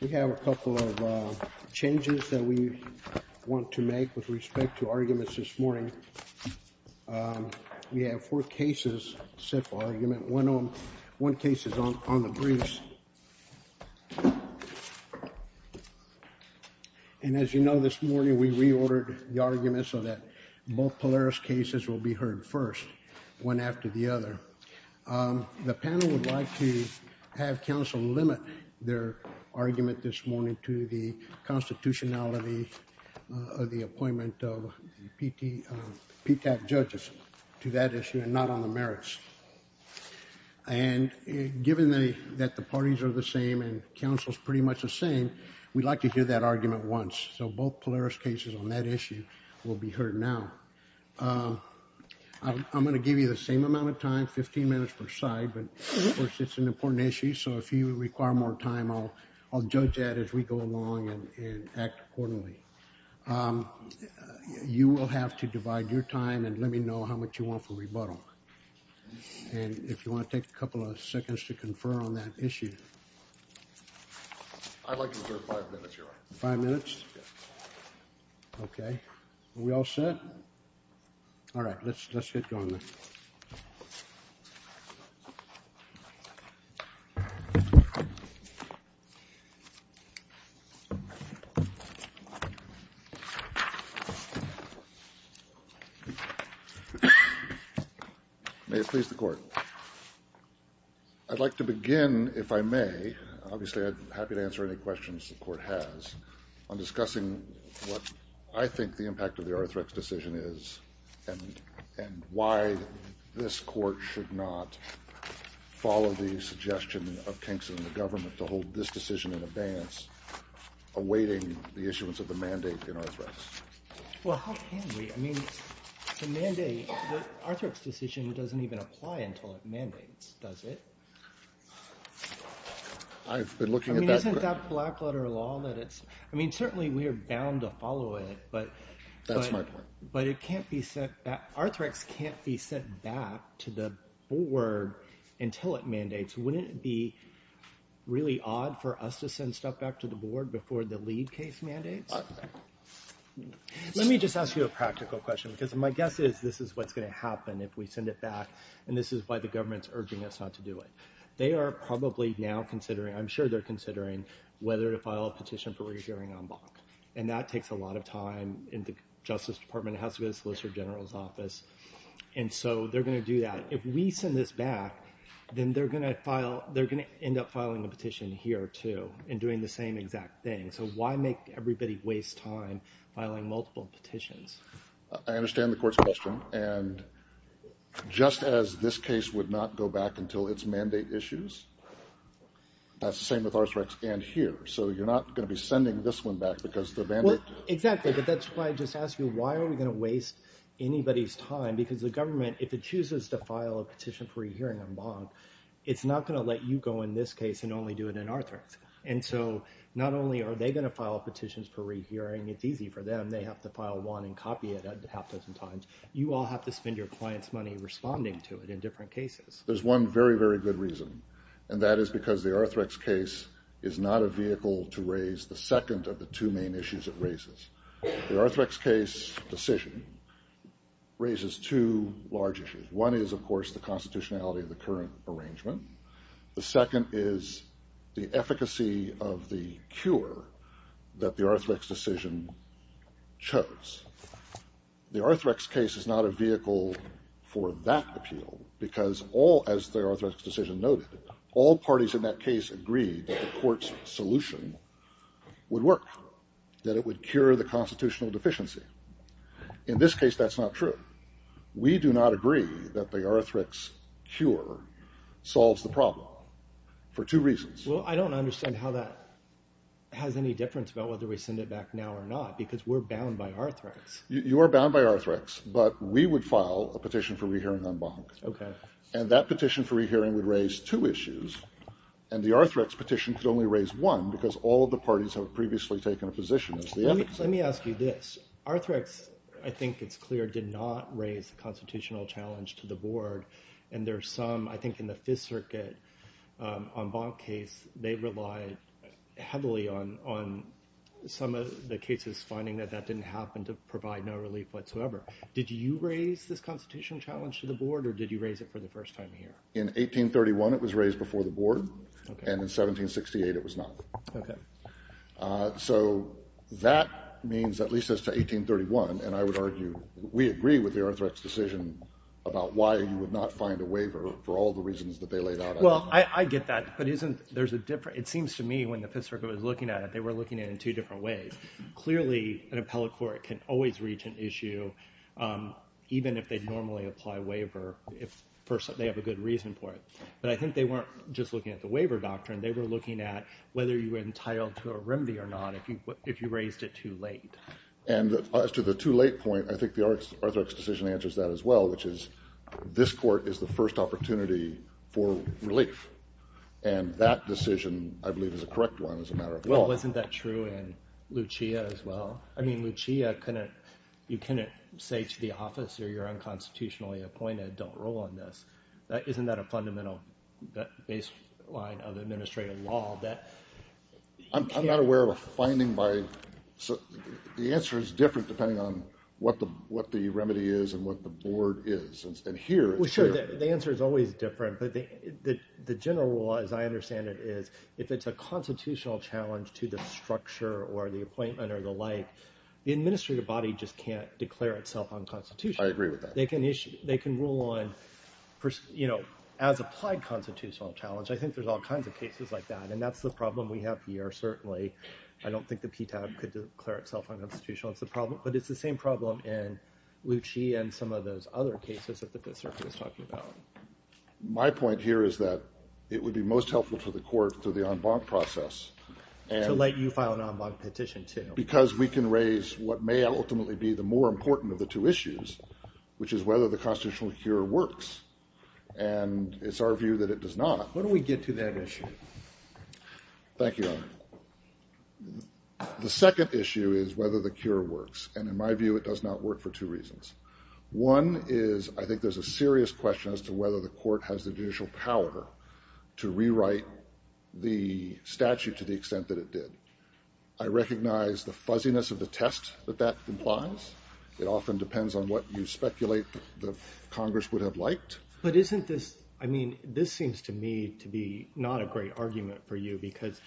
We have a couple of changes that we want to make with respect to arguments this morning. We have four cases set for argument. One case is on the briefs. As you know, this morning we reordered the argument so that both Polaris cases will be heard first, one after the other. The panel would like to have counsel limit their argument this morning to the constitutionality of the appointment of PTAC judges to that issue and not on the merits. And given that the parties are the same and counsel is pretty much the same, we'd like to hear that argument once. So both Polaris cases on that issue will be heard now. I'm going to give you the same amount of time, 15 minutes per side, but of course it's an important issue. So if you require more time, I'll judge that as we go along and act accordingly. You will have to divide your time and let me know how much you want for rebuttal. And if you want to take a couple of seconds to confer on that issue. I'd like to reserve five minutes, Your Honor. Five minutes? Yes. Okay. Are we all set? All right. Let's get going then. May it please the Court. I'd like to begin, if I may, obviously I'm happy to answer any questions the Court has, on discussing what I think the impact of the Arthrex decision is and why this Court should not follow the suggestion of Kingston and the government to hold this decision in advance, awaiting the issuance of the mandate in Arthrex. Well, how can we? I mean, the mandate, the Arthrex decision doesn't even apply until it mandates, does it? I've been looking at that. I mean, isn't that black letter law that it's... I mean, certainly we are bound to follow it, but... That's my point. But it can't be sent... Wouldn't it be really odd for us to send stuff back to the Board before the lead case mandates? Let me just ask you a practical question, because my guess is this is what's going to happen if we send it back, and this is why the government's urging us not to do it. They are probably now considering, I'm sure they're considering, whether to file a petition for reviewing en banc. And that takes a lot of time in the Justice Department, it has to go to the Solicitor General's office. And so they're going to do that. But if we send this back, then they're going to end up filing a petition here, too, and doing the same exact thing. So why make everybody waste time filing multiple petitions? I understand the Court's question. And just as this case would not go back until its mandate issues, that's the same with Arthrex and here. So you're not going to be sending this one back because the mandate... Exactly, but that's why I just asked you, why are we going to waste anybody's time? Because the government, if it chooses to file a petition for re-hearing en banc, it's not going to let you go in this case and only do it in Arthrex. And so not only are they going to file petitions for re-hearing, it's easy for them, they have to file one and copy it a half dozen times. You all have to spend your clients' money responding to it in different cases. There's one very, very good reason, and that is because the Arthrex case is not a vehicle to raise the second of the two main issues it raises. The Arthrex case decision raises two large issues. One is, of course, the constitutionality of the current arrangement. The second is the efficacy of the cure that the Arthrex decision chose. The Arthrex case is not a vehicle for that appeal because all, as the Arthrex decision noted, all parties in that case agreed that the court's solution would work. That it would cure the constitutional deficiency. In this case, that's not true. We do not agree that the Arthrex cure solves the problem for two reasons. Well, I don't understand how that has any difference about whether we send it back now or not because we're bound by Arthrex. You are bound by Arthrex, but we would file a petition for re-hearing on Bonk. Okay. And that petition for re-hearing would raise two issues, and the Arthrex petition could only raise one because all of the parties have previously taken a position as the efficacy. Let me ask you this. Arthrex, I think it's clear, did not raise the constitutional challenge to the board. And there are some, I think in the Fifth Circuit on Bonk case, they relied heavily on some of the cases finding that that didn't happen to provide no relief whatsoever. Did you raise this constitutional challenge to the board, or did you raise it for the first time here? In 1831, it was raised before the board. Okay. And in 1768, it was not. Okay. So that means at least as to 1831, and I would argue we agree with the Arthrex decision about why you would not find a waiver for all the reasons that they laid out. Well, I get that, but isn't – there's a – it seems to me when the Fifth Circuit was looking at it, they were looking at it in two different ways. Clearly, an appellate court can always reach an issue even if they normally apply a waiver if they have a good reason for it. But I think they weren't just looking at the waiver doctrine. They were looking at whether you were entitled to a remedy or not if you raised it too late. And as to the too late point, I think the Arthrex decision answers that as well, which is this court is the first opportunity for relief. And that decision, I believe, is a correct one as a matter of law. Well, isn't that true in Lucia as well? I mean, Lucia couldn't – you couldn't say to the officer, you're unconstitutionally appointed, don't rule on this. Isn't that a fundamental baseline of administrative law that – I'm not aware of a finding by – the answer is different depending on what the remedy is and what the board is. And here – Well, sure, the answer is always different. But the general law, as I understand it, is if it's a constitutional challenge to the structure or the appointment or the like, the administrative body just can't declare itself unconstitutional. I agree with that. They can rule on – as applied constitutional challenge, I think there's all kinds of cases like that. And that's the problem we have here, certainly. I don't think the PTAC could declare itself unconstitutional. It's the problem – but it's the same problem in Lucia and some of those other cases that the circuit is talking about. My point here is that it would be most helpful for the court through the en banc process. To let you file an en banc petition too. Because we can raise what may ultimately be the more important of the two issues, which is whether the constitutional cure works. And it's our view that it does not. When do we get to that issue? Thank you, Your Honor. The second issue is whether the cure works. And in my view, it does not work for two reasons. One is I think there's a serious question as to whether the court has the judicial power to rewrite the statute to the extent that it did. I recognize the fuzziness of the test that that implies. It often depends on what you speculate that Congress would have liked. But isn't this – I mean, this seems to me to be not a great argument for you. Because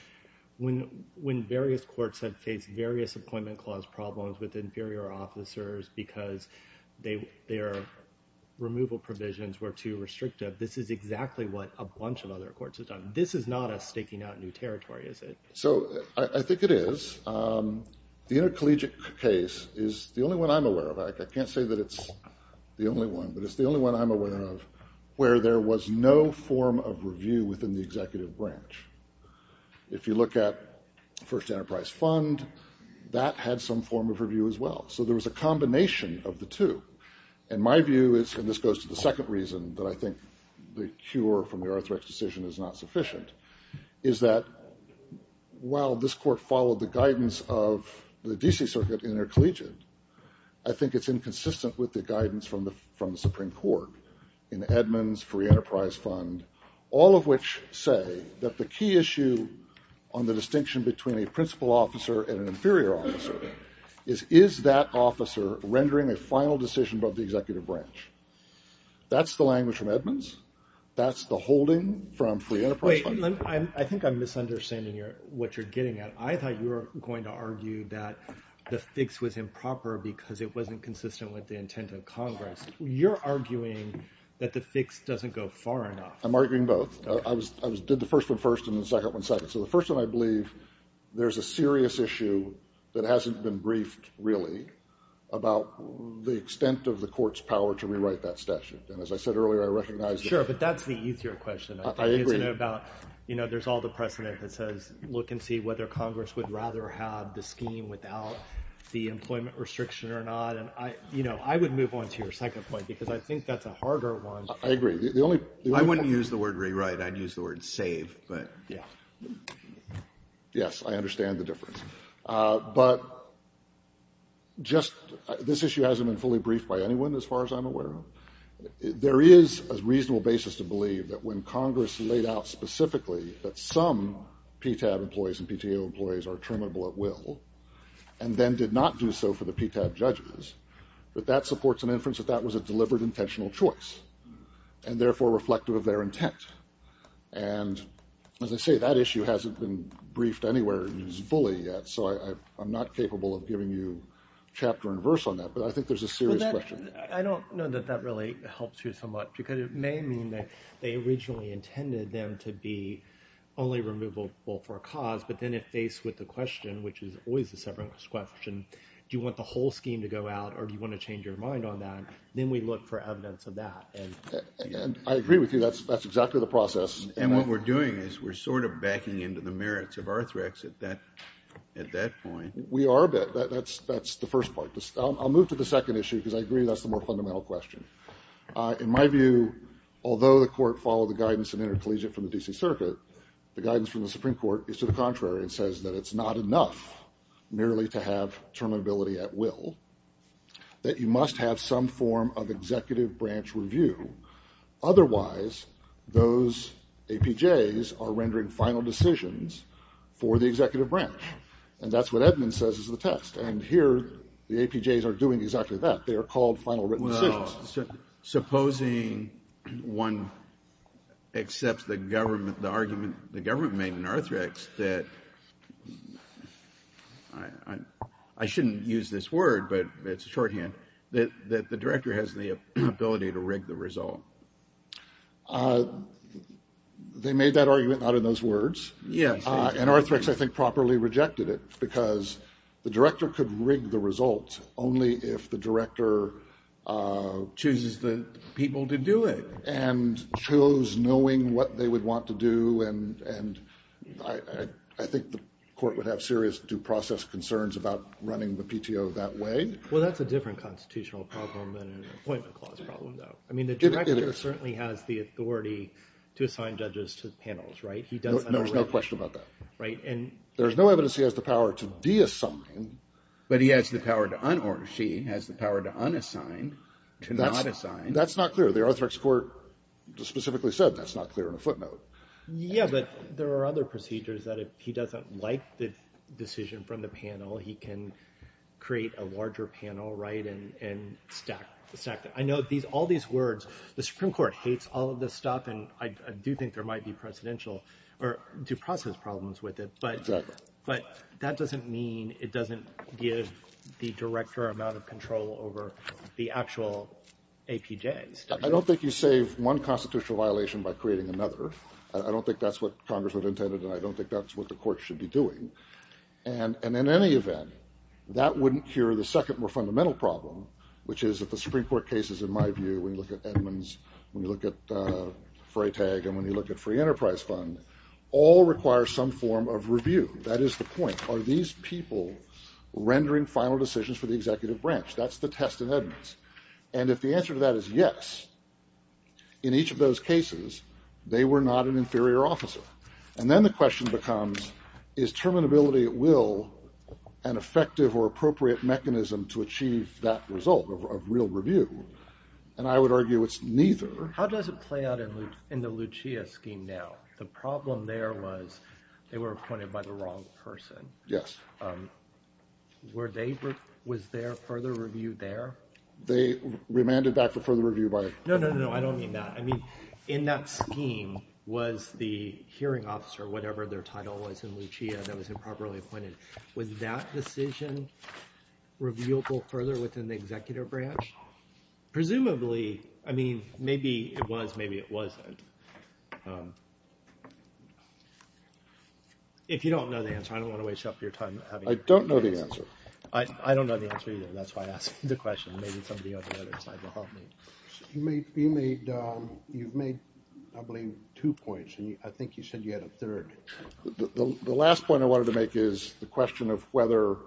when various courts have faced various appointment clause problems with inferior officers because their removal provisions were too restrictive, this is exactly what a bunch of other courts have done. This is not us staking out new territory, is it? So I think it is. The intercollegiate case is the only one I'm aware of. I can't say that it's the only one. But it's the only one I'm aware of where there was no form of review within the executive branch. If you look at First Enterprise Fund, that had some form of review as well. So there was a combination of the two. And my view is – and this goes to the second reason that I think the cure from the Arthrex decision is not sufficient – is that while this court followed the guidance of the D.C. Circuit intercollegiate, I think it's inconsistent with the guidance from the Supreme Court in Edmonds, Free Enterprise Fund, all of which say that the key issue on the distinction between a principal officer and an inferior officer is is that officer rendering a final decision above the executive branch. That's the language from Edmonds. That's the holding from Free Enterprise Fund. Wait. I think I'm misunderstanding what you're getting at. I thought you were going to argue that the fix was improper because it wasn't consistent with the intent of Congress. You're arguing that the fix doesn't go far enough. I'm arguing both. I did the first one first and the second one second. So the first one I believe there's a serious issue that hasn't been briefed really about the extent of the court's power to rewrite that statute. And as I said earlier, I recognize that. Sure, but that's the easier question. I think it's about there's all the precedent that says look and see whether Congress would rather have the scheme without the employment restriction or not. And I would move on to your second point because I think that's a harder one. I agree. I wouldn't use the word rewrite. I'd use the word save. Yes, I understand the difference. But just this issue hasn't been fully briefed by anyone as far as I'm aware. There is a reasonable basis to believe that when Congress laid out specifically that some PTAB employees and PTO employees are terminable at will and then did not do so for the PTAB judges, that that supports an inference that that was a delivered intentional choice and therefore reflective of their intent. And as I say, that issue hasn't been briefed anywhere fully yet, so I'm not capable of giving you chapter and verse on that. But I think there's a serious question. I don't know that that really helps you so much, because it may mean that they originally intended them to be only removable for a cause, but then it faced with the question, which is always the severance question, do you want the whole scheme to go out or do you want to change your mind on that? Then we look for evidence of that. I agree with you. That's exactly the process. And what we're doing is we're sort of backing into the merits of Arthrex at that point. We are, but that's the first part. I'll move to the second issue, because I agree that's the more fundamental question. In my view, although the court followed the guidance of intercollegiate from the D.C. Circuit, the guidance from the Supreme Court is to the contrary and says that it's not enough merely to have terminability at will, that you must have some form of executive branch review. Otherwise, those APJs are rendering final decisions for the executive branch. And that's what Edmunds says is the text. And here the APJs are doing exactly that. They are called final written decisions. Well, supposing one accepts the government, the argument the government made in Arthrex that I shouldn't use this word, but it's a shorthand, that the director has the ability to rig the result. They made that argument not in those words. Yes. And Arthrex, I think, properly rejected it, because the director could rig the result only if the director chooses the people to do it and chose knowing what they would want to do. And I think the court would have serious due process concerns about running the PTO that way. Well, that's a different constitutional problem than an appointment clause problem, though. I mean, the director certainly has the authority to assign judges to panels, right? No, there's no question about that. There's no evidence he has the power to deassign, but he has the power to unassign, to not assign. That's not clear. The Arthrex court specifically said that's not clear on a footnote. Yeah, but there are other procedures that if he doesn't like the decision from the panel, he can create a larger panel, right, and stack them. I know all these words. The Supreme Court hates all of this stuff, and I do think there might be presidential or due process problems with it. Exactly. But that doesn't mean it doesn't give the director amount of control over the actual APJs. I don't think you save one constitutional violation by creating another. I don't think that's what Congress would have intended, and I don't think that's what the court should be doing. And in any event, that wouldn't cure the second more fundamental problem, which is that the Supreme Court cases, in my view, when you look at Edmunds, when you look at Freytag, and when you look at Free Enterprise Fund, all require some form of review. That is the point. Are these people rendering final decisions for the executive branch? That's the test in Edmunds. And if the answer to that is yes, in each of those cases, they were not an inferior officer. And then the question becomes, is terminability at will an effective or appropriate mechanism to achieve that result of real review? And I would argue it's neither. How does it play out in the Lucia scheme now? The problem there was they were appointed by the wrong person. Yes. Were they – was there further review there? They remanded back for further review by – No, no, no. I don't mean that. I mean in that scheme was the hearing officer, whatever their title was in Lucia, that was improperly appointed. Was that decision reviewable further within the executive branch? Presumably. I mean maybe it was, maybe it wasn't. If you don't know the answer, I don't want to waste up your time. I don't know the answer. I don't know the answer either. That's why I asked the question. Maybe somebody on the other side will help me. You've made, I believe, two points, and I think you said you had a third. The last point I wanted to make is the question of whether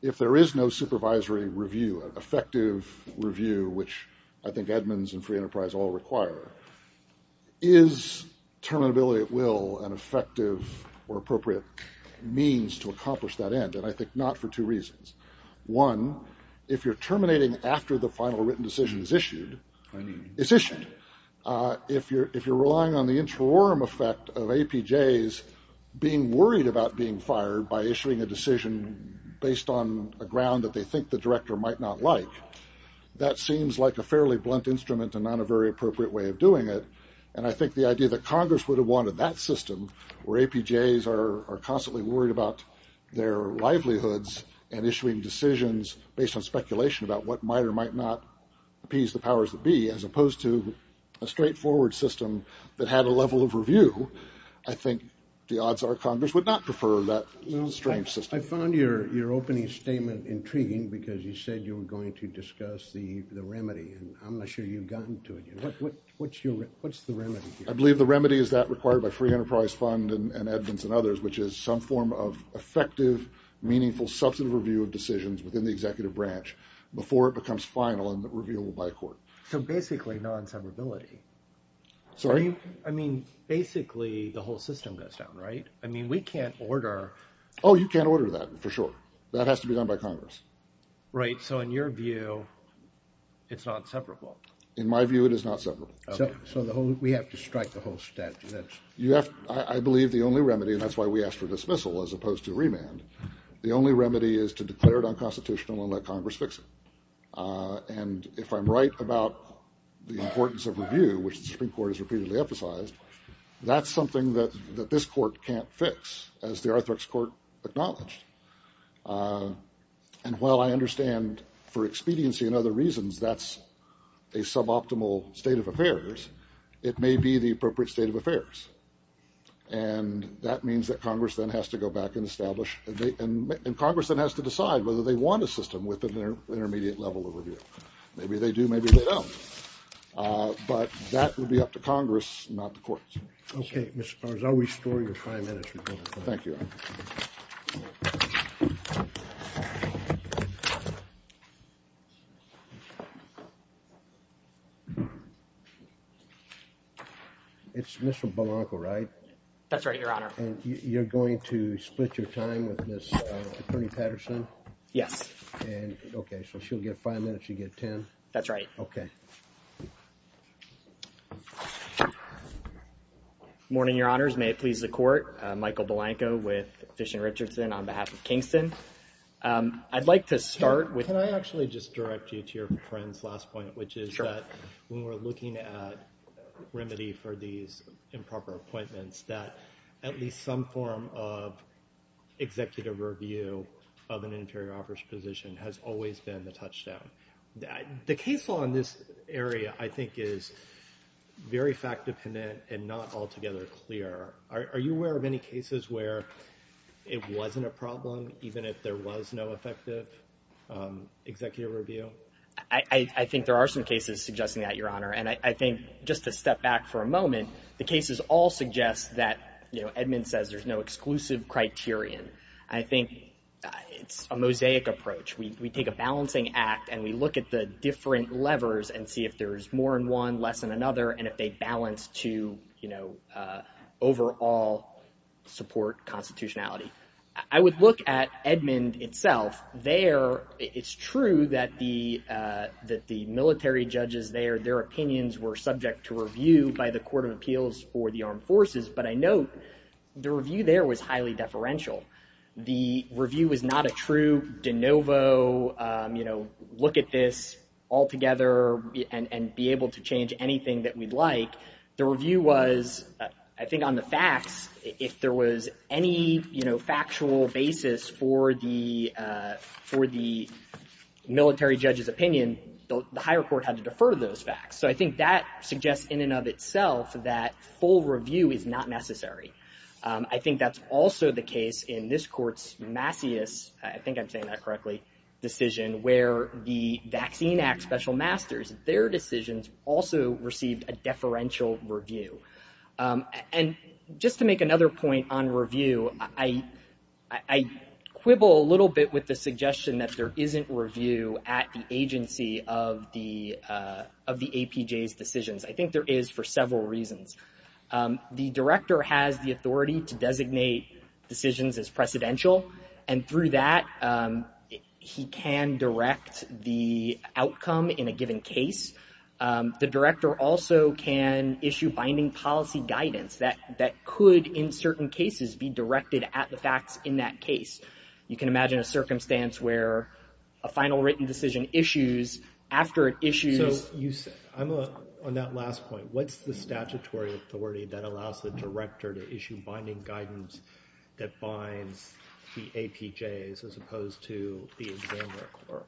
if there is no supervisory review, effective review, which I think admins and free enterprise all require, is terminability at will an effective or appropriate means to accomplish that end? And I think not for two reasons. One, if you're terminating after the final written decision is issued, it's issued. If you're relying on the interim effect of APJs being worried about being fired by issuing a decision based on a ground that they think the director might not like, that seems like a fairly blunt instrument and not a very appropriate way of doing it. And I think the idea that Congress would have wanted that system where APJs are constantly worried about their livelihoods and issuing decisions based on speculation about what might or might not appease the powers that be as opposed to a straightforward system that had a level of review, I think the odds are Congress would not prefer that strange system. I found your opening statement intriguing because you said you were going to discuss the remedy, and I'm not sure you've gotten to it yet. What's the remedy? I believe the remedy is that required by free enterprise fund and admins and others, which is some form of effective, meaningful, substantive review of decisions within the executive branch before it becomes final and revealable by a court. So basically non-separability. Sorry? I mean, basically the whole system goes down, right? I mean, we can't order. Oh, you can't order that, for sure. That has to be done by Congress. Right, so in your view, it's not separable. In my view, it is not separable. So we have to strike the whole statute. I believe the only remedy, and that's why we asked for dismissal as opposed to remand, the only remedy is to declare it unconstitutional and let Congress fix it. And if I'm right about the importance of review, which the Supreme Court has repeatedly emphasized, that's something that this court can't fix, as the Arthrex Court acknowledged. And while I understand for expediency and other reasons that's a suboptimal state of affairs, it may be the appropriate state of affairs. And that means that Congress then has to go back and establish, and Congress then has to decide whether they want a system with an intermediate level of review. Maybe they do, maybe they don't. But that would be up to Congress, not the courts. Okay, Mr. Powers, I'll restore your five minutes. Thank you. Thank you. It's Mr. Blanco, right? That's right, Your Honor. And you're going to split your time with this Attorney Patterson? Yes. Okay, so she'll get five minutes, you get ten? That's right. Okay. Good morning, Your Honors. May it please the Court. Michael Blanco with Fish and Richardson on behalf of Kingston. I'd like to start with... Can I actually just direct you to your friend's last point, which is that when we're looking at remedy for these improper appointments, that at least some form of executive review of an inferior office position has always been the touchdown. The case law in this area, I think, is very fact-dependent and not altogether clear. Are you aware of any cases where it wasn't a problem, even if there was no effective executive review? I think there are some cases suggesting that, Your Honor. And I think just to step back for a moment, the cases all suggest that, you know, Edmund says there's no exclusive criterion. I think it's a mosaic approach. We take a balancing act and we look at the different levers and see if there's more in one, less in another, and if they balance to, you know, overall support constitutionality. I would look at Edmund itself. There, it's true that the military judges there, their opinions were subject to review by the Court of Appeals for the Armed Forces, but I note the review there was highly deferential. The review was not a true de novo, you know, look at this altogether and be able to change anything that we'd like. The review was, I think on the facts, if there was any, you know, factual basis for the military judge's opinion, the higher court had to defer those facts. So I think that suggests in and of itself that full review is not necessary. I think that's also the case in this court's Macias, I think I'm saying that correctly, decision, where the Vaccine Act Special Masters, their decisions also received a deferential review. And just to make another point on review, I quibble a little bit with the suggestion that there isn't review at the agency of the APJ's decisions. I think there is for several reasons. The director has the authority to designate decisions as precedential, and through that he can direct the outcome in a given case. The director also can issue binding policy guidance that could in certain cases be directed at the facts in that case. You can imagine a circumstance where a final written decision issues after it issues. On that last point, what's the statutory authority that allows the director to issue binding guidance that binds the APJ's as opposed to the examiner court?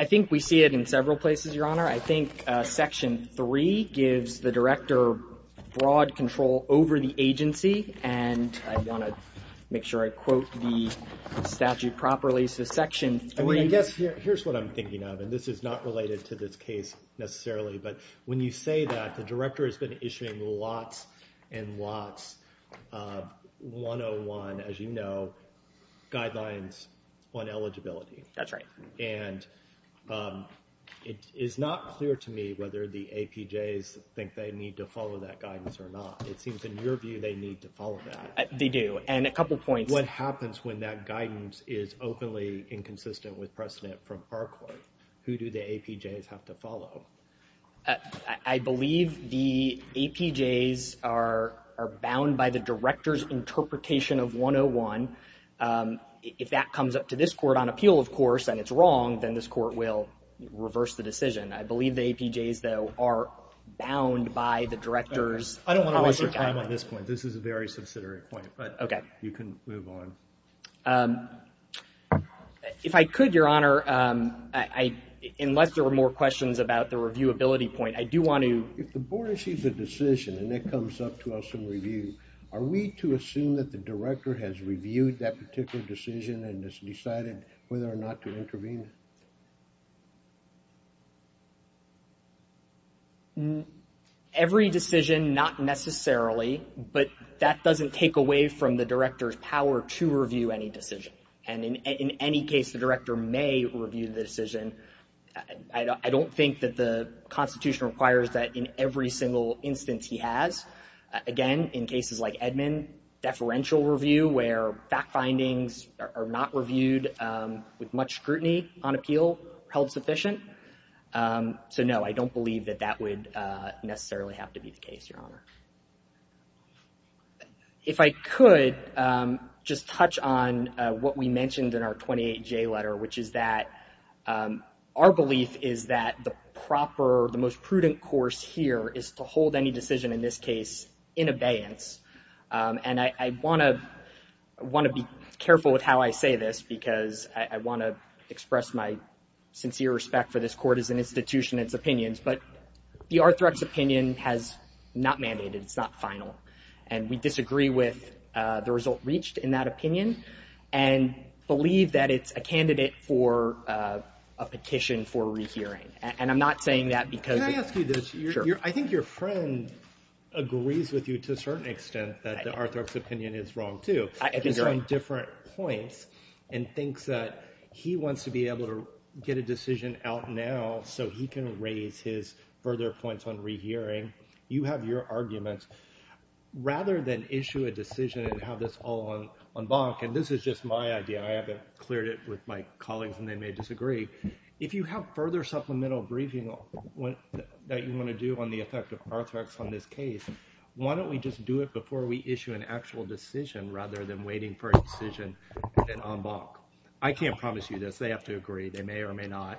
I think we see it in several places, Your Honor. I think Section 3 gives the director broad control over the agency, and I want to make sure I quote the statute properly. I guess here's what I'm thinking of, and this is not related to this case necessarily, but when you say that the director has been issuing lots and lots of 101, as you know, guidelines on eligibility. That's right. And it is not clear to me whether the APJ's think they need to follow that guidance or not. It seems in your view they need to follow that. They do, and a couple points. What happens when that guidance is openly inconsistent with precedent from our court? Who do the APJ's have to follow? I believe the APJ's are bound by the director's interpretation of 101. If that comes up to this court on appeal, of course, and it's wrong, then this court will reverse the decision. I believe the APJ's, though, are bound by the director's policy guidance. I don't want to waste your time on this point. This is a very subsidiary point, but you can move on. If I could, Your Honor, unless there were more questions about the reviewability point, I do want to. If the board issues a decision and it comes up to us in review, are we to assume that the director has reviewed that particular decision and has decided whether or not to intervene? Every decision, not necessarily, but that doesn't take away from the director's power to review any decision. And in any case, the director may review the decision. I don't think that the Constitution requires that in every single instance he has. Again, in cases like Edmund, deferential review where fact findings are not reviewed with much scrutiny on appeal held sufficient. So, no, I don't believe that that would necessarily have to be the case, Your Honor. If I could just touch on what we mentioned in our 28J letter, which is that our belief is that the proper, the most prudent course here is to hold any decision in this case in abeyance. And I want to be careful with how I say this because I want to express my sincere respect for this court as an institution and its opinions. But the Arthrex opinion has not mandated, it's not final. And we disagree with the result reached in that opinion and believe that it's a candidate for a petition for rehearing. And I'm not saying that because. Can I ask you this? Sure. I think your friend agrees with you to a certain extent that the Arthrex opinion is wrong, too. I think you're right. He's on different points and thinks that he wants to be able to get a decision out now so he can raise his further points on rehearing. You have your arguments. Rather than issue a decision and have this all on bonk, and this is just my idea, I haven't cleared it with my colleagues and they may disagree. If you have further supplemental briefing that you want to do on the effect of Arthrex on this case, why don't we just do it before we issue an actual decision rather than waiting for a decision on bonk? I can't promise you this. They have to agree. They may or may not.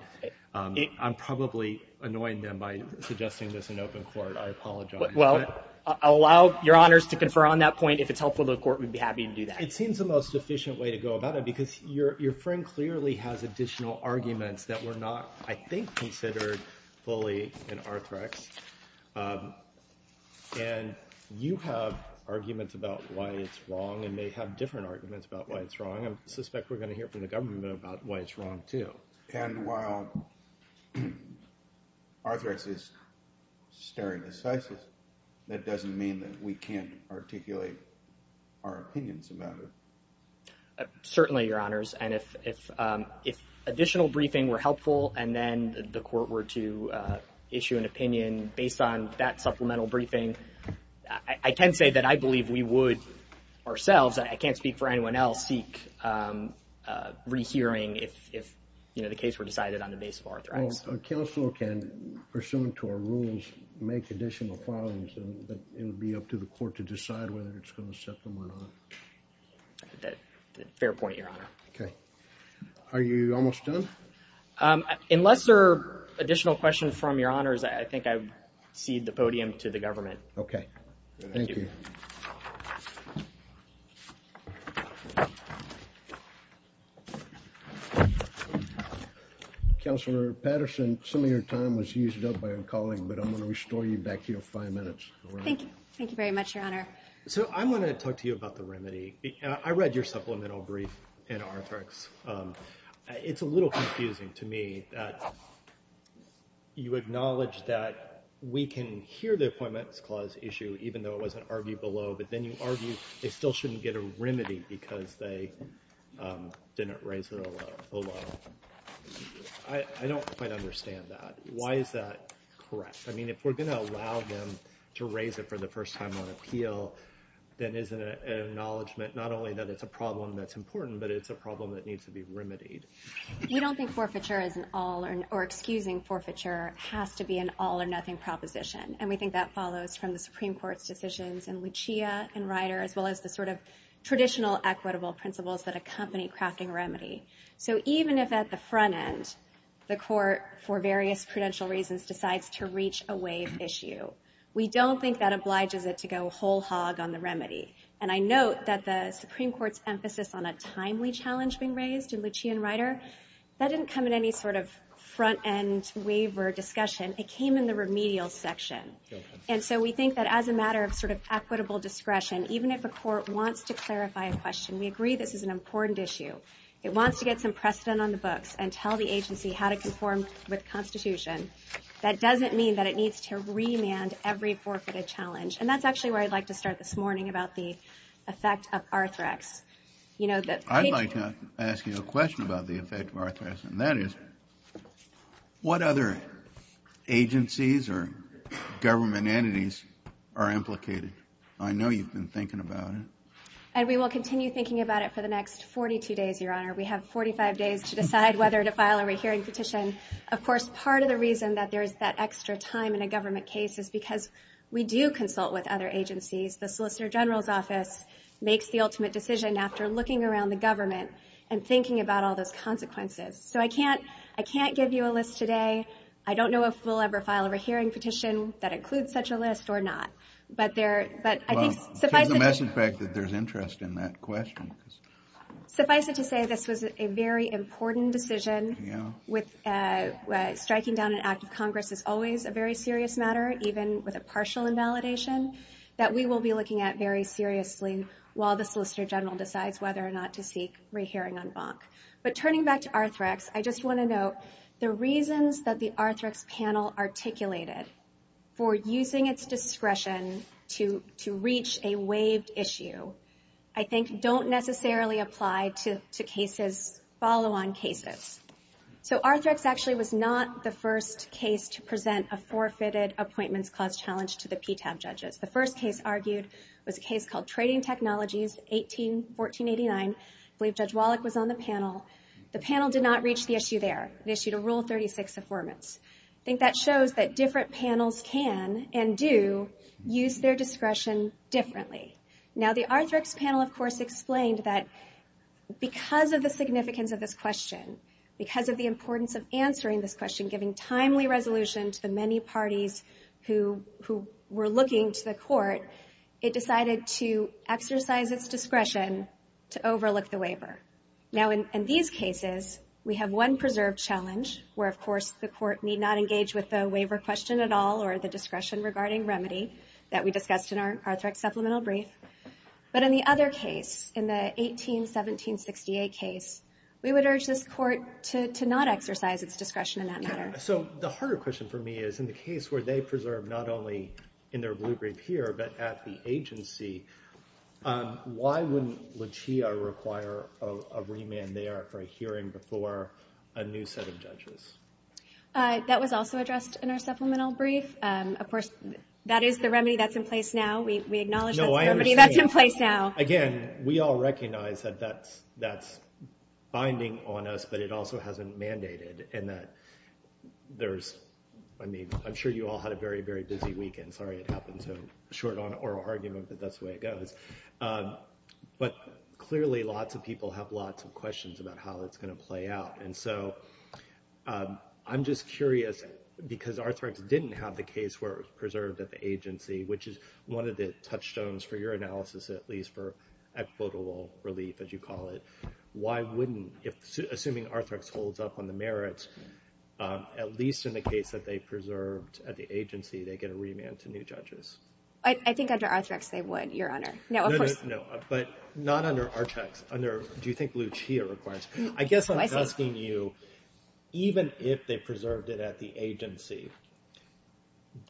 I'm probably annoying them by suggesting this in open court. I apologize. Well, allow your honors to confer on that point. If it's helpful to the court, we'd be happy to do that. It seems the most efficient way to go about it because your friend clearly has additional arguments that were not, I think, considered fully in Arthrex. And you have arguments about why it's wrong and may have different arguments about why it's wrong. I suspect we're going to hear from the government about why it's wrong, too. And while Arthrex is stare decisis, that doesn't mean that we can't articulate our opinions about it. Certainly, your honors. And if additional briefing were helpful and then the court were to issue an opinion based on that supplemental briefing, I can say that I believe we would ourselves, I can't speak for anyone else, seek rehearing if the case were decided on the basis of Arthrex. Well, a counselor can, pursuant to our rules, make additional filings. It would be up to the court to decide whether it's going to accept them or not. Fair point, your honor. Okay. Are you almost done? Unless there are additional questions from your honors, I think I cede the podium to the government. Okay. Thank you. Counselor Patterson, some of your time was used up by a colleague, but I'm going to restore you back here for five minutes. Thank you. Thank you very much, your honor. So I'm going to talk to you about the remedy. I read your supplemental brief in Arthrex. It's a little confusing to me that you acknowledge that we can hear the appointments clause issue, even though it wasn't argued below, but then you argue they still shouldn't get a remedy because they didn't raise it alone. I don't quite understand that. Why is that correct? I mean, if we're going to allow them to raise it for the first time on appeal, then isn't it an acknowledgment not only that it's a problem that's important, but it's a problem that needs to be remedied? We don't think forfeiture is an all or excusing forfeiture has to be an all or nothing proposition, and we think that follows from the Supreme Court's decisions in Lucia and Ryder, as well as the sort of traditional equitable principles that accompany crafting a remedy. So even if at the front end the court, for various prudential reasons, decides to reach a waive issue, we don't think that obliges it to go whole hog on the remedy. And I note that the Supreme Court's emphasis on a timely challenge being raised in Lucia and Ryder, that didn't come in any sort of front end waiver discussion. It came in the remedial section. And so we think that as a matter of sort of equitable discretion, even if a court wants to clarify a question, we agree this is an important issue. It wants to get some precedent on the books and tell the agency how to conform with the Constitution. That doesn't mean that it needs to remand every forfeited challenge. And that's actually where I'd like to start this morning about the effect of Arthrex. I'd like to ask you a question about the effect of Arthrex, and that is what other agencies or government entities are implicated? I know you've been thinking about it. And we will continue thinking about it for the next 42 days, Your Honor. We have 45 days to decide whether to file a rehearing petition. Of course, part of the reason that there's that extra time in a government case is because we do consult with other agencies. The Solicitor General's Office makes the ultimate decision after looking around the government and thinking about all those consequences. So I can't give you a list today. I don't know if we'll ever file a rehearing petition that includes such a list or not. But I think suffice it to say this was a very important decision. Striking down an act of Congress is always a very serious matter, even with a partial invalidation, that we will be looking at very seriously while the Solicitor General decides whether or not to seek rehearing en banc. But turning back to Arthrex, I just want to note the reasons that the Arthrex panel articulated for using its discretion to reach a waived issue, I think don't necessarily apply to follow-on cases. So Arthrex actually was not the first case to present a forfeited appointments clause challenge to the PTAB judges. The first case argued was a case called Trading Technologies, 18-1489. I believe Judge Wallach was on the panel. The panel did not reach the issue there. They issued a Rule 36 Affirmance. I think that shows that different panels can and do use their discretion differently. Now the Arthrex panel, of course, explained that because of the significance of this question, because of the importance of answering this question, giving timely resolution to the many parties who were looking to the court, it decided to exercise its discretion to overlook the waiver. Now in these cases, we have one preserved challenge, where of course the court need not engage with the waiver question at all or the discretion regarding remedy that we discussed in our Arthrex supplemental brief. But in the other case, in the 18-1768 case, we would urge this court to not exercise its discretion in that matter. So the harder question for me is in the case where they preserve not only in their blue brief here but at the agency, why wouldn't LaChia require a remand there for a hearing before a new set of judges? That was also addressed in our supplemental brief. Of course, that is the remedy that's in place now. We acknowledge that's the remedy that's in place now. No, I understand. Again, we all recognize that that's binding on us, but it also hasn't mandated. And that there's, I mean, I'm sure you all had a very, very busy weekend. Sorry it happened so short on oral argument, but that's the way it goes. But clearly lots of people have lots of questions about how it's going to play out. And so I'm just curious, because Arthrex didn't have the case where it was preserved at the agency, which is one of the touchstones for your analysis, at least for equitable relief, as you call it, why wouldn't, assuming Arthrex holds up on the merits, at least in the case that they preserved at the agency, they get a remand to new judges? I think under Arthrex they would, Your Honor. No, but not under Archex. Under, do you think Lucia requires? I guess I'm asking you, even if they preserved it at the agency,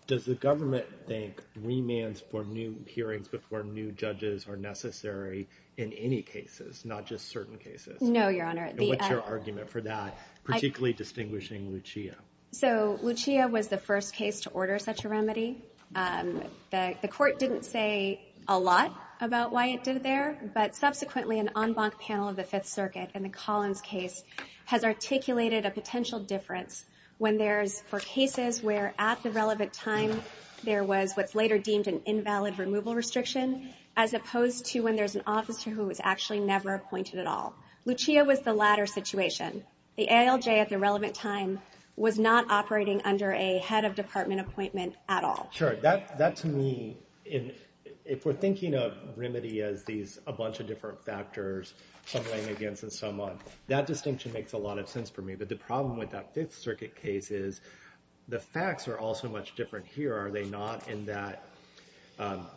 does the government think remands for new hearings before new judges are necessary in any cases, not just certain cases? No, Your Honor. And what's your argument for that, particularly distinguishing Lucia? So Lucia was the first case to order such a remedy. The court didn't say a lot about why it did it there, but subsequently an en banc panel of the Fifth Circuit in the Collins case has articulated a potential difference when there's, for cases where at the relevant time there was what's later deemed an invalid removal restriction, as opposed to when there's an officer who was actually never appointed at all. Lucia was the latter situation. The ALJ at the relevant time was not operating under a head of department appointment at all. Sure, that to me, if we're thinking of remedy as these, a bunch of different factors, some laying against and some on, that distinction makes a lot of sense for me. But the problem with that Fifth Circuit case is the facts are all so much different here, are they not, in that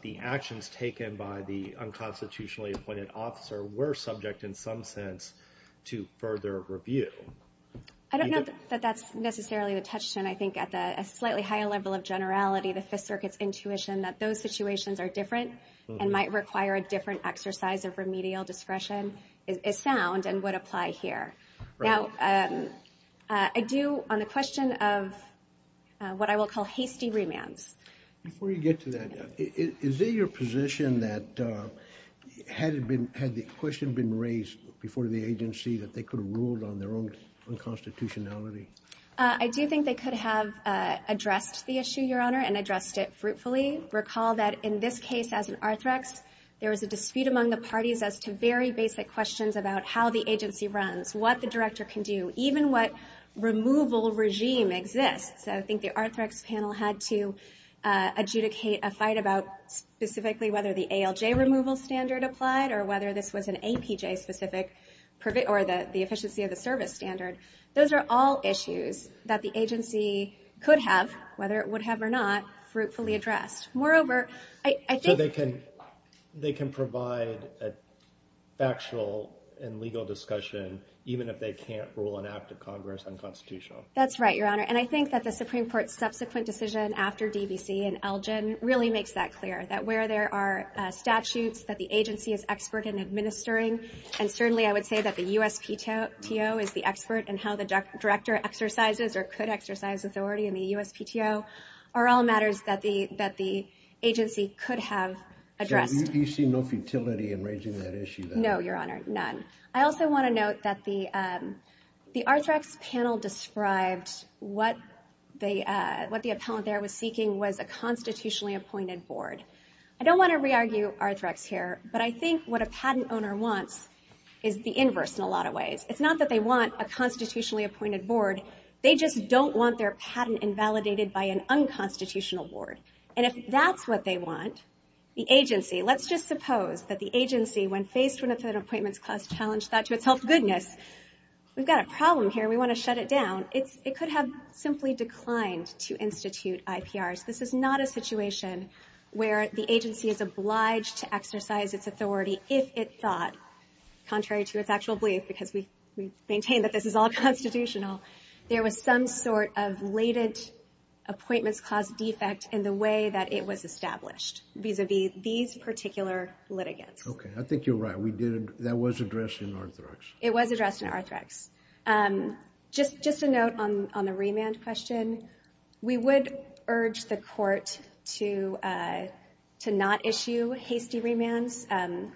the actions taken by the unconstitutionally appointed officer were subject in some sense to further review. I don't know that that's necessarily the touchstone. I think at a slightly higher level of generality, the Fifth Circuit's intuition that those situations are different and might require a different exercise of remedial discretion is sound and would apply here. Now, I do, on the question of what I will call hasty remands. Before you get to that, is it your position that had the question been raised before the agency that they could have ruled on their own unconstitutionality? I do think they could have addressed the issue, Your Honor, and addressed it fruitfully. Recall that in this case, as an Arthrex, there was a dispute among the parties as to very basic questions about how the agency runs, what the director can do, even what removal regime exists. I think the Arthrex panel had to adjudicate a fight about specifically whether the ALJ removal standard applied or whether this was an APJ specific or the efficiency of the service standard. Those are all issues that the agency could have, whether it would have or not, fruitfully addressed. So they can provide a factual and legal discussion, even if they can't rule an act of Congress unconstitutional. That's right, Your Honor, and I think that the Supreme Court's subsequent decision after DBC and Elgin really makes that clear, that where there are statutes that the agency is expert in administering, and certainly I would say that the USPTO is the expert in how the director exercises or could exercise authority in the USPTO, are all matters that the agency could have addressed. So you see no futility in raising that issue? No, Your Honor, none. I also want to note that the Arthrex panel described what the appellant there was seeking was a constitutionally appointed board. I don't want to re-argue Arthrex here, but I think what a patent owner wants is the inverse in a lot of ways. It's not that they want a constitutionally appointed board, they just don't want their patent invalidated by an unconstitutional board. And if that's what they want, the agency, let's just suppose that the agency, when faced with an appointments clause challenge, thought to itself, goodness, we've got a problem here, we want to shut it down. It could have simply declined to institute IPRs. This is not a situation where the agency is obliged to exercise its authority if it thought, contrary to its actual belief, because we maintain that this is all constitutional, there was some sort of related appointments clause defect in the way that it was established, vis-a-vis these particular litigants. Okay, I think you're right. That was addressed in Arthrex. It was addressed in Arthrex. Just a note on the remand question. We would urge the court to not issue hasty remands.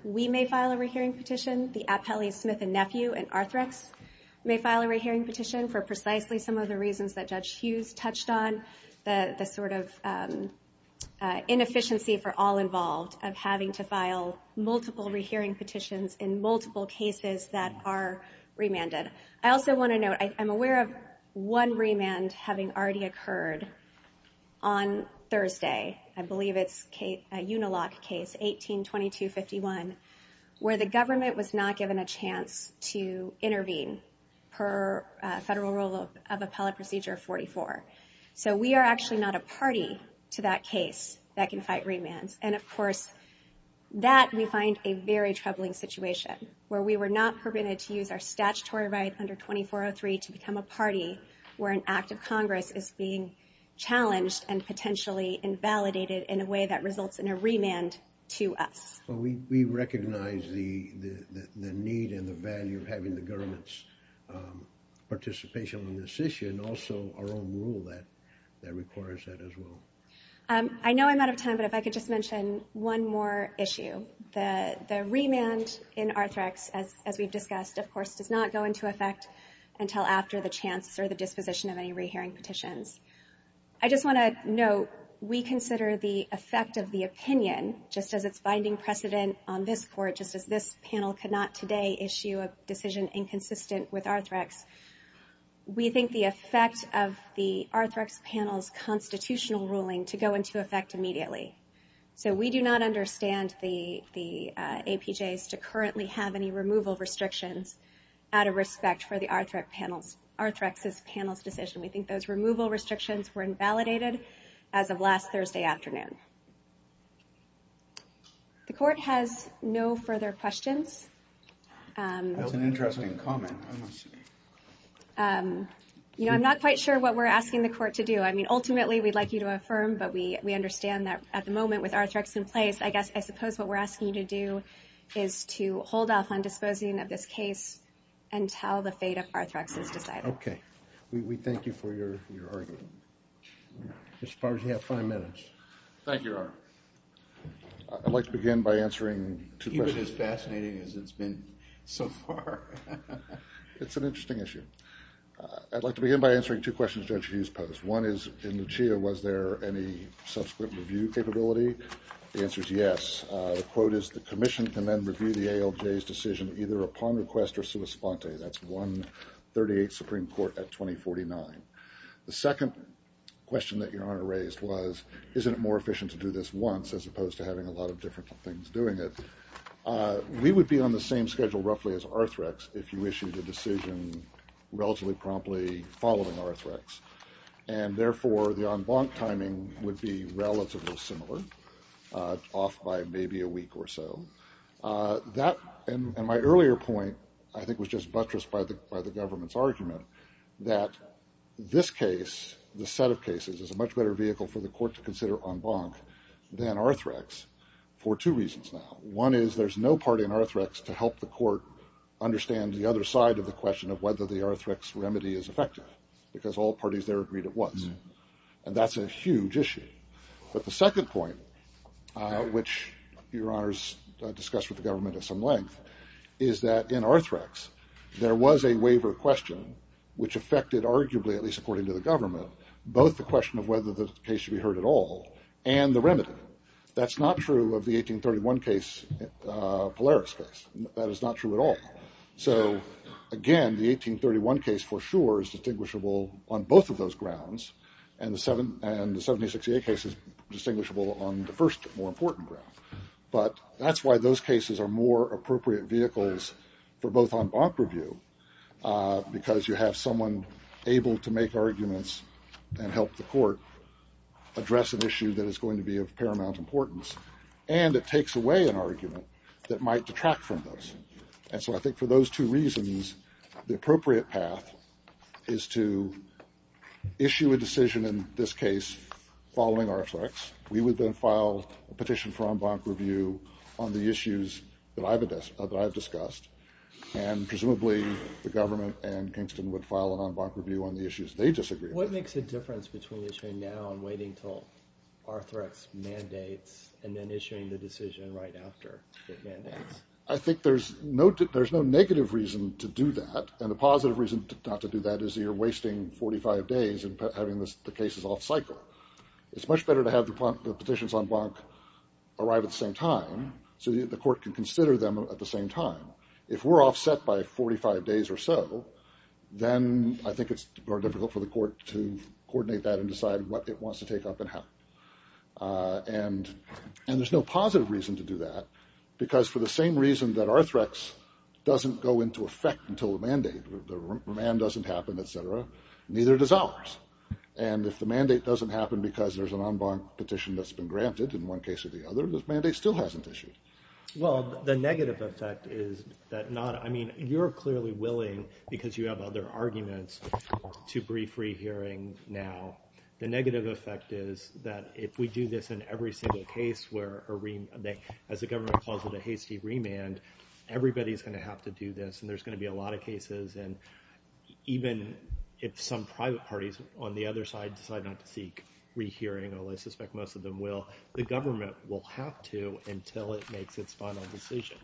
We may file a rehearing petition. The Appellee, Smith & Nephew, and Arthrex may file a rehearing petition for precisely some of the reasons that Judge Hughes touched on, the sort of inefficiency for all involved of having to file multiple rehearing petitions in multiple cases that are remanded. I also want to note, I'm aware of one remand having already occurred on Thursday. I believe it's a Unilock case, 18-2251, where the government was not given a chance to intervene per federal rule of appellate procedure 44. So we are actually not a party to that case that can fight remands. And, of course, that we find a very troubling situation, where we were not permitted to use our statutory right under 2403 to become a party where an act of Congress is being challenged and potentially invalidated in a way that results in a remand to us. We recognize the need and the value of having the government's participation on this issue and also our own rule that requires that as well. I know I'm out of time, but if I could just mention one more issue. The remand in Arthrex, as we've discussed, of course, does not go into effect until after the chance or the disposition of any rehearing petitions. I just want to note, we consider the effect of the opinion, just as it's finding precedent on this Court, just as this panel could not today issue a decision inconsistent with Arthrex, we think the effect of the Arthrex panel's constitutional ruling to go into effect immediately. So we do not understand the APJs to currently have any removal restrictions out of respect for the Arthrex panel's decision. We think those removal restrictions were invalidated as of last Thursday afternoon. The Court has no further questions. That was an interesting comment. I'm not quite sure what we're asking the Court to do. I mean, ultimately, we'd like you to affirm, but we understand that at the moment, with Arthrex in place, I guess I suppose what we're asking you to do is to hold off on disposing of this case until the fate of Arthrex is decided. Okay. We thank you for your argument. Mr. Favre, you have five minutes. Thank you, Your Honor. I'd like to begin by answering two questions. Keep it as fascinating as it's been so far. It's an interesting issue. I'd like to begin by answering two questions Judge Hughes posed. One is, in Lucia, was there any subsequent review capability? The answer is yes. The quote is, the Commission can then review the ALJ's decision either upon request or sua sponte. That's 138 Supreme Court at 2049. The second question that Your Honor raised was, isn't it more efficient to do this once as opposed to having a lot of different things doing it? We would be on the same schedule roughly as Arthrex if you issued a decision relatively promptly following Arthrex. And therefore, the en banc timing would be relatively similar, off by maybe a week or so. And my earlier point I think was just buttressed by the government's argument that this case, the set of cases, is a much better vehicle for the court to consider en banc than Arthrex for two reasons now. One is, there's no party in Arthrex to help the court understand the other side of the question of whether the Arthrex remedy is effective. Because all parties there agreed it was. And that's a huge issue. But the second point, which Your Honor's discussed with the government at some length, is that in Arthrex, there was a waiver question which affected arguably, at least according to the government, both the question of whether the case should be heard at all and the remedy. That's not true of the 1831 case, Polaris case. That is not true at all. So, again, the 1831 case for sure is distinguishable on both of those grounds and the 7068 case is distinguishable on the first more important ground. But that's why those cases are more appropriate vehicles for both en banc review because you have someone able to make arguments and help the court address an issue that is going to be of paramount importance and it takes away an argument that might detract from those. And so I think for those two reasons, the appropriate path is to issue a decision in this case following Arthrex. We would then file a petition for en banc review on the issues that I've discussed and presumably the government and Kingston would file an en banc review on the issues they disagree with. What makes a difference between issuing now and waiting until Arthrex mandates and then issuing the decision right after it mandates? I think there's no negative reason to do that and the positive reason not to do that is that you're wasting 45 days in having the cases off cycle. It's much better to have the petitions en banc arrive at the same time so that the court can consider them at the same time. If we're offset by 45 days or so, then I think it's more difficult for the court to coordinate that and decide what it wants to take up and how. And there's no positive reason to do that because for the same reason that Arthrex doesn't go into effect until the mandate, the remand doesn't happen, et cetera, neither does ours. And if the mandate doesn't happen because there's an en banc petition that's been granted in one case or the other, the mandate still hasn't issued. Well, the negative effect is that not – I mean, you're clearly willing because you have other arguments to brief rehearing now. The negative effect is that if we do this in every single case where a – as the government calls it a hasty remand, everybody's going to have to do this and there's going to be a lot of cases. And even if some private parties on the other side decide not to seek rehearing, although I suspect most of them will, the government will have to until it makes its final decision.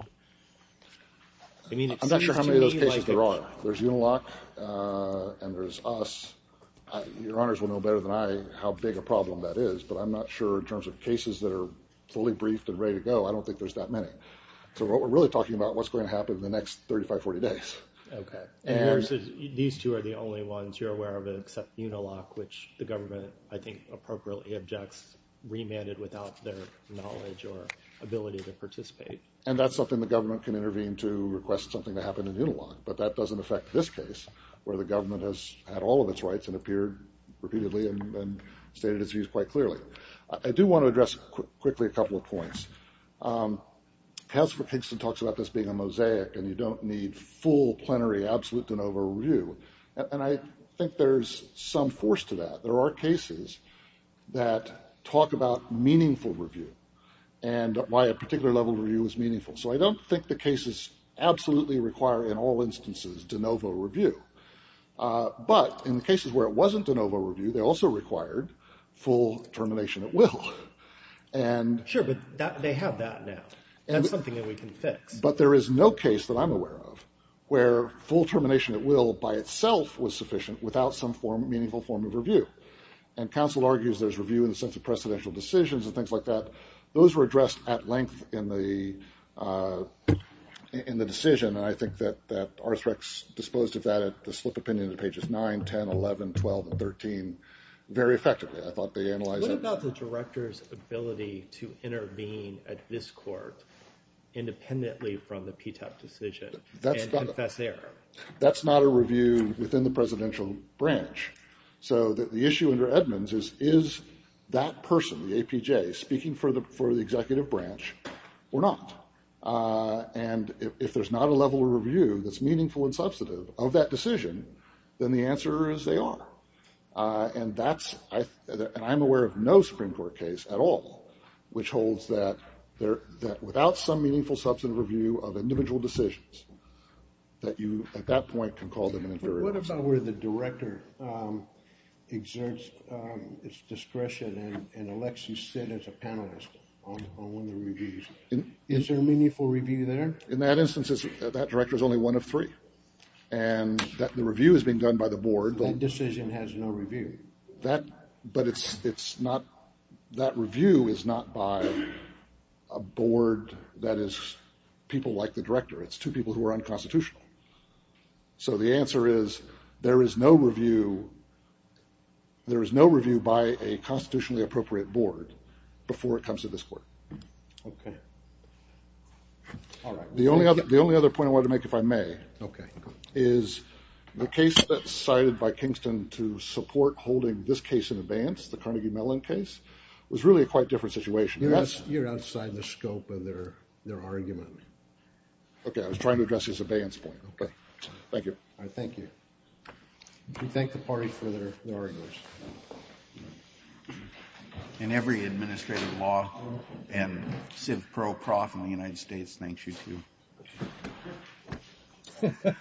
I mean, it seems to me like a – I'm not sure how many of those cases there are. There's Uniloc and there's us. Your Honors will know better than I how big a problem that is, but I'm not sure in terms of cases that are fully briefed and ready to go. I don't think there's that many. So we're really talking about what's going to happen in the next 35, 40 days. Okay. And yours is – these two are the only ones you're aware of except Uniloc, which the government I think appropriately objects remanded without their knowledge or ability to participate. And that's something the government can intervene to request something to happen in Uniloc, but that doesn't affect this case where the government has had all of its rights and appeared repeatedly and stated its views quite clearly. I do want to address quickly a couple of points. Casper Kingston talks about this being a mosaic and you don't need full, plenary, absolute de novo review. And I think there's some force to that. There are cases that talk about meaningful review and why a particular level of review is meaningful. So I don't think the cases absolutely require in all instances de novo review. But in the cases where it wasn't de novo review, they also required full termination at will. Sure, but they have that now. That's something that we can fix. But there is no case that I'm aware of where full termination at will by itself was sufficient without some meaningful form of review. And counsel argues there's review in the sense of precedential decisions and things like that. Those were addressed at length in the decision. And I think that Arthrex disposed of that at the slip opinion in pages 9, 10, 11, 12, and 13 very effectively. I thought they analyzed that. What about the director's ability to intervene at this court independently from the PTAP decision and confess error? That's not a review within the presidential branch. So the issue under Edmonds is, is that person, the APJ, speaking for the executive branch or not? And if there's not a level of review that's meaningful and substantive of that decision, then the answer is they are. And I'm aware of no Supreme Court case at all which holds that without some meaningful, substantive review of individual decisions, that you at that point can call them an inferiority. What about where the director exerts its discretion and elects you sit as a panelist on one of the reviews? Is there a meaningful review there? In that instance, that director is only one of three. And the review is being done by the board. That decision has no review. But that review is not by a board that is people like the director. It's two people who are unconstitutional. So the answer is there is no review by a constitutionally appropriate board before it comes to this court. The only other point I wanted to make, if I may, is the case that's cited by Kingston to support holding this case in abeyance, the Carnegie Mellon case, was really a quite different situation. You're outside the scope of their argument. Okay. I was trying to address his abeyance point. Okay. Thank you. All right. Thank you. We thank the party for their arguments. And every administrative law and civ pro prof in the United States thanks you, too.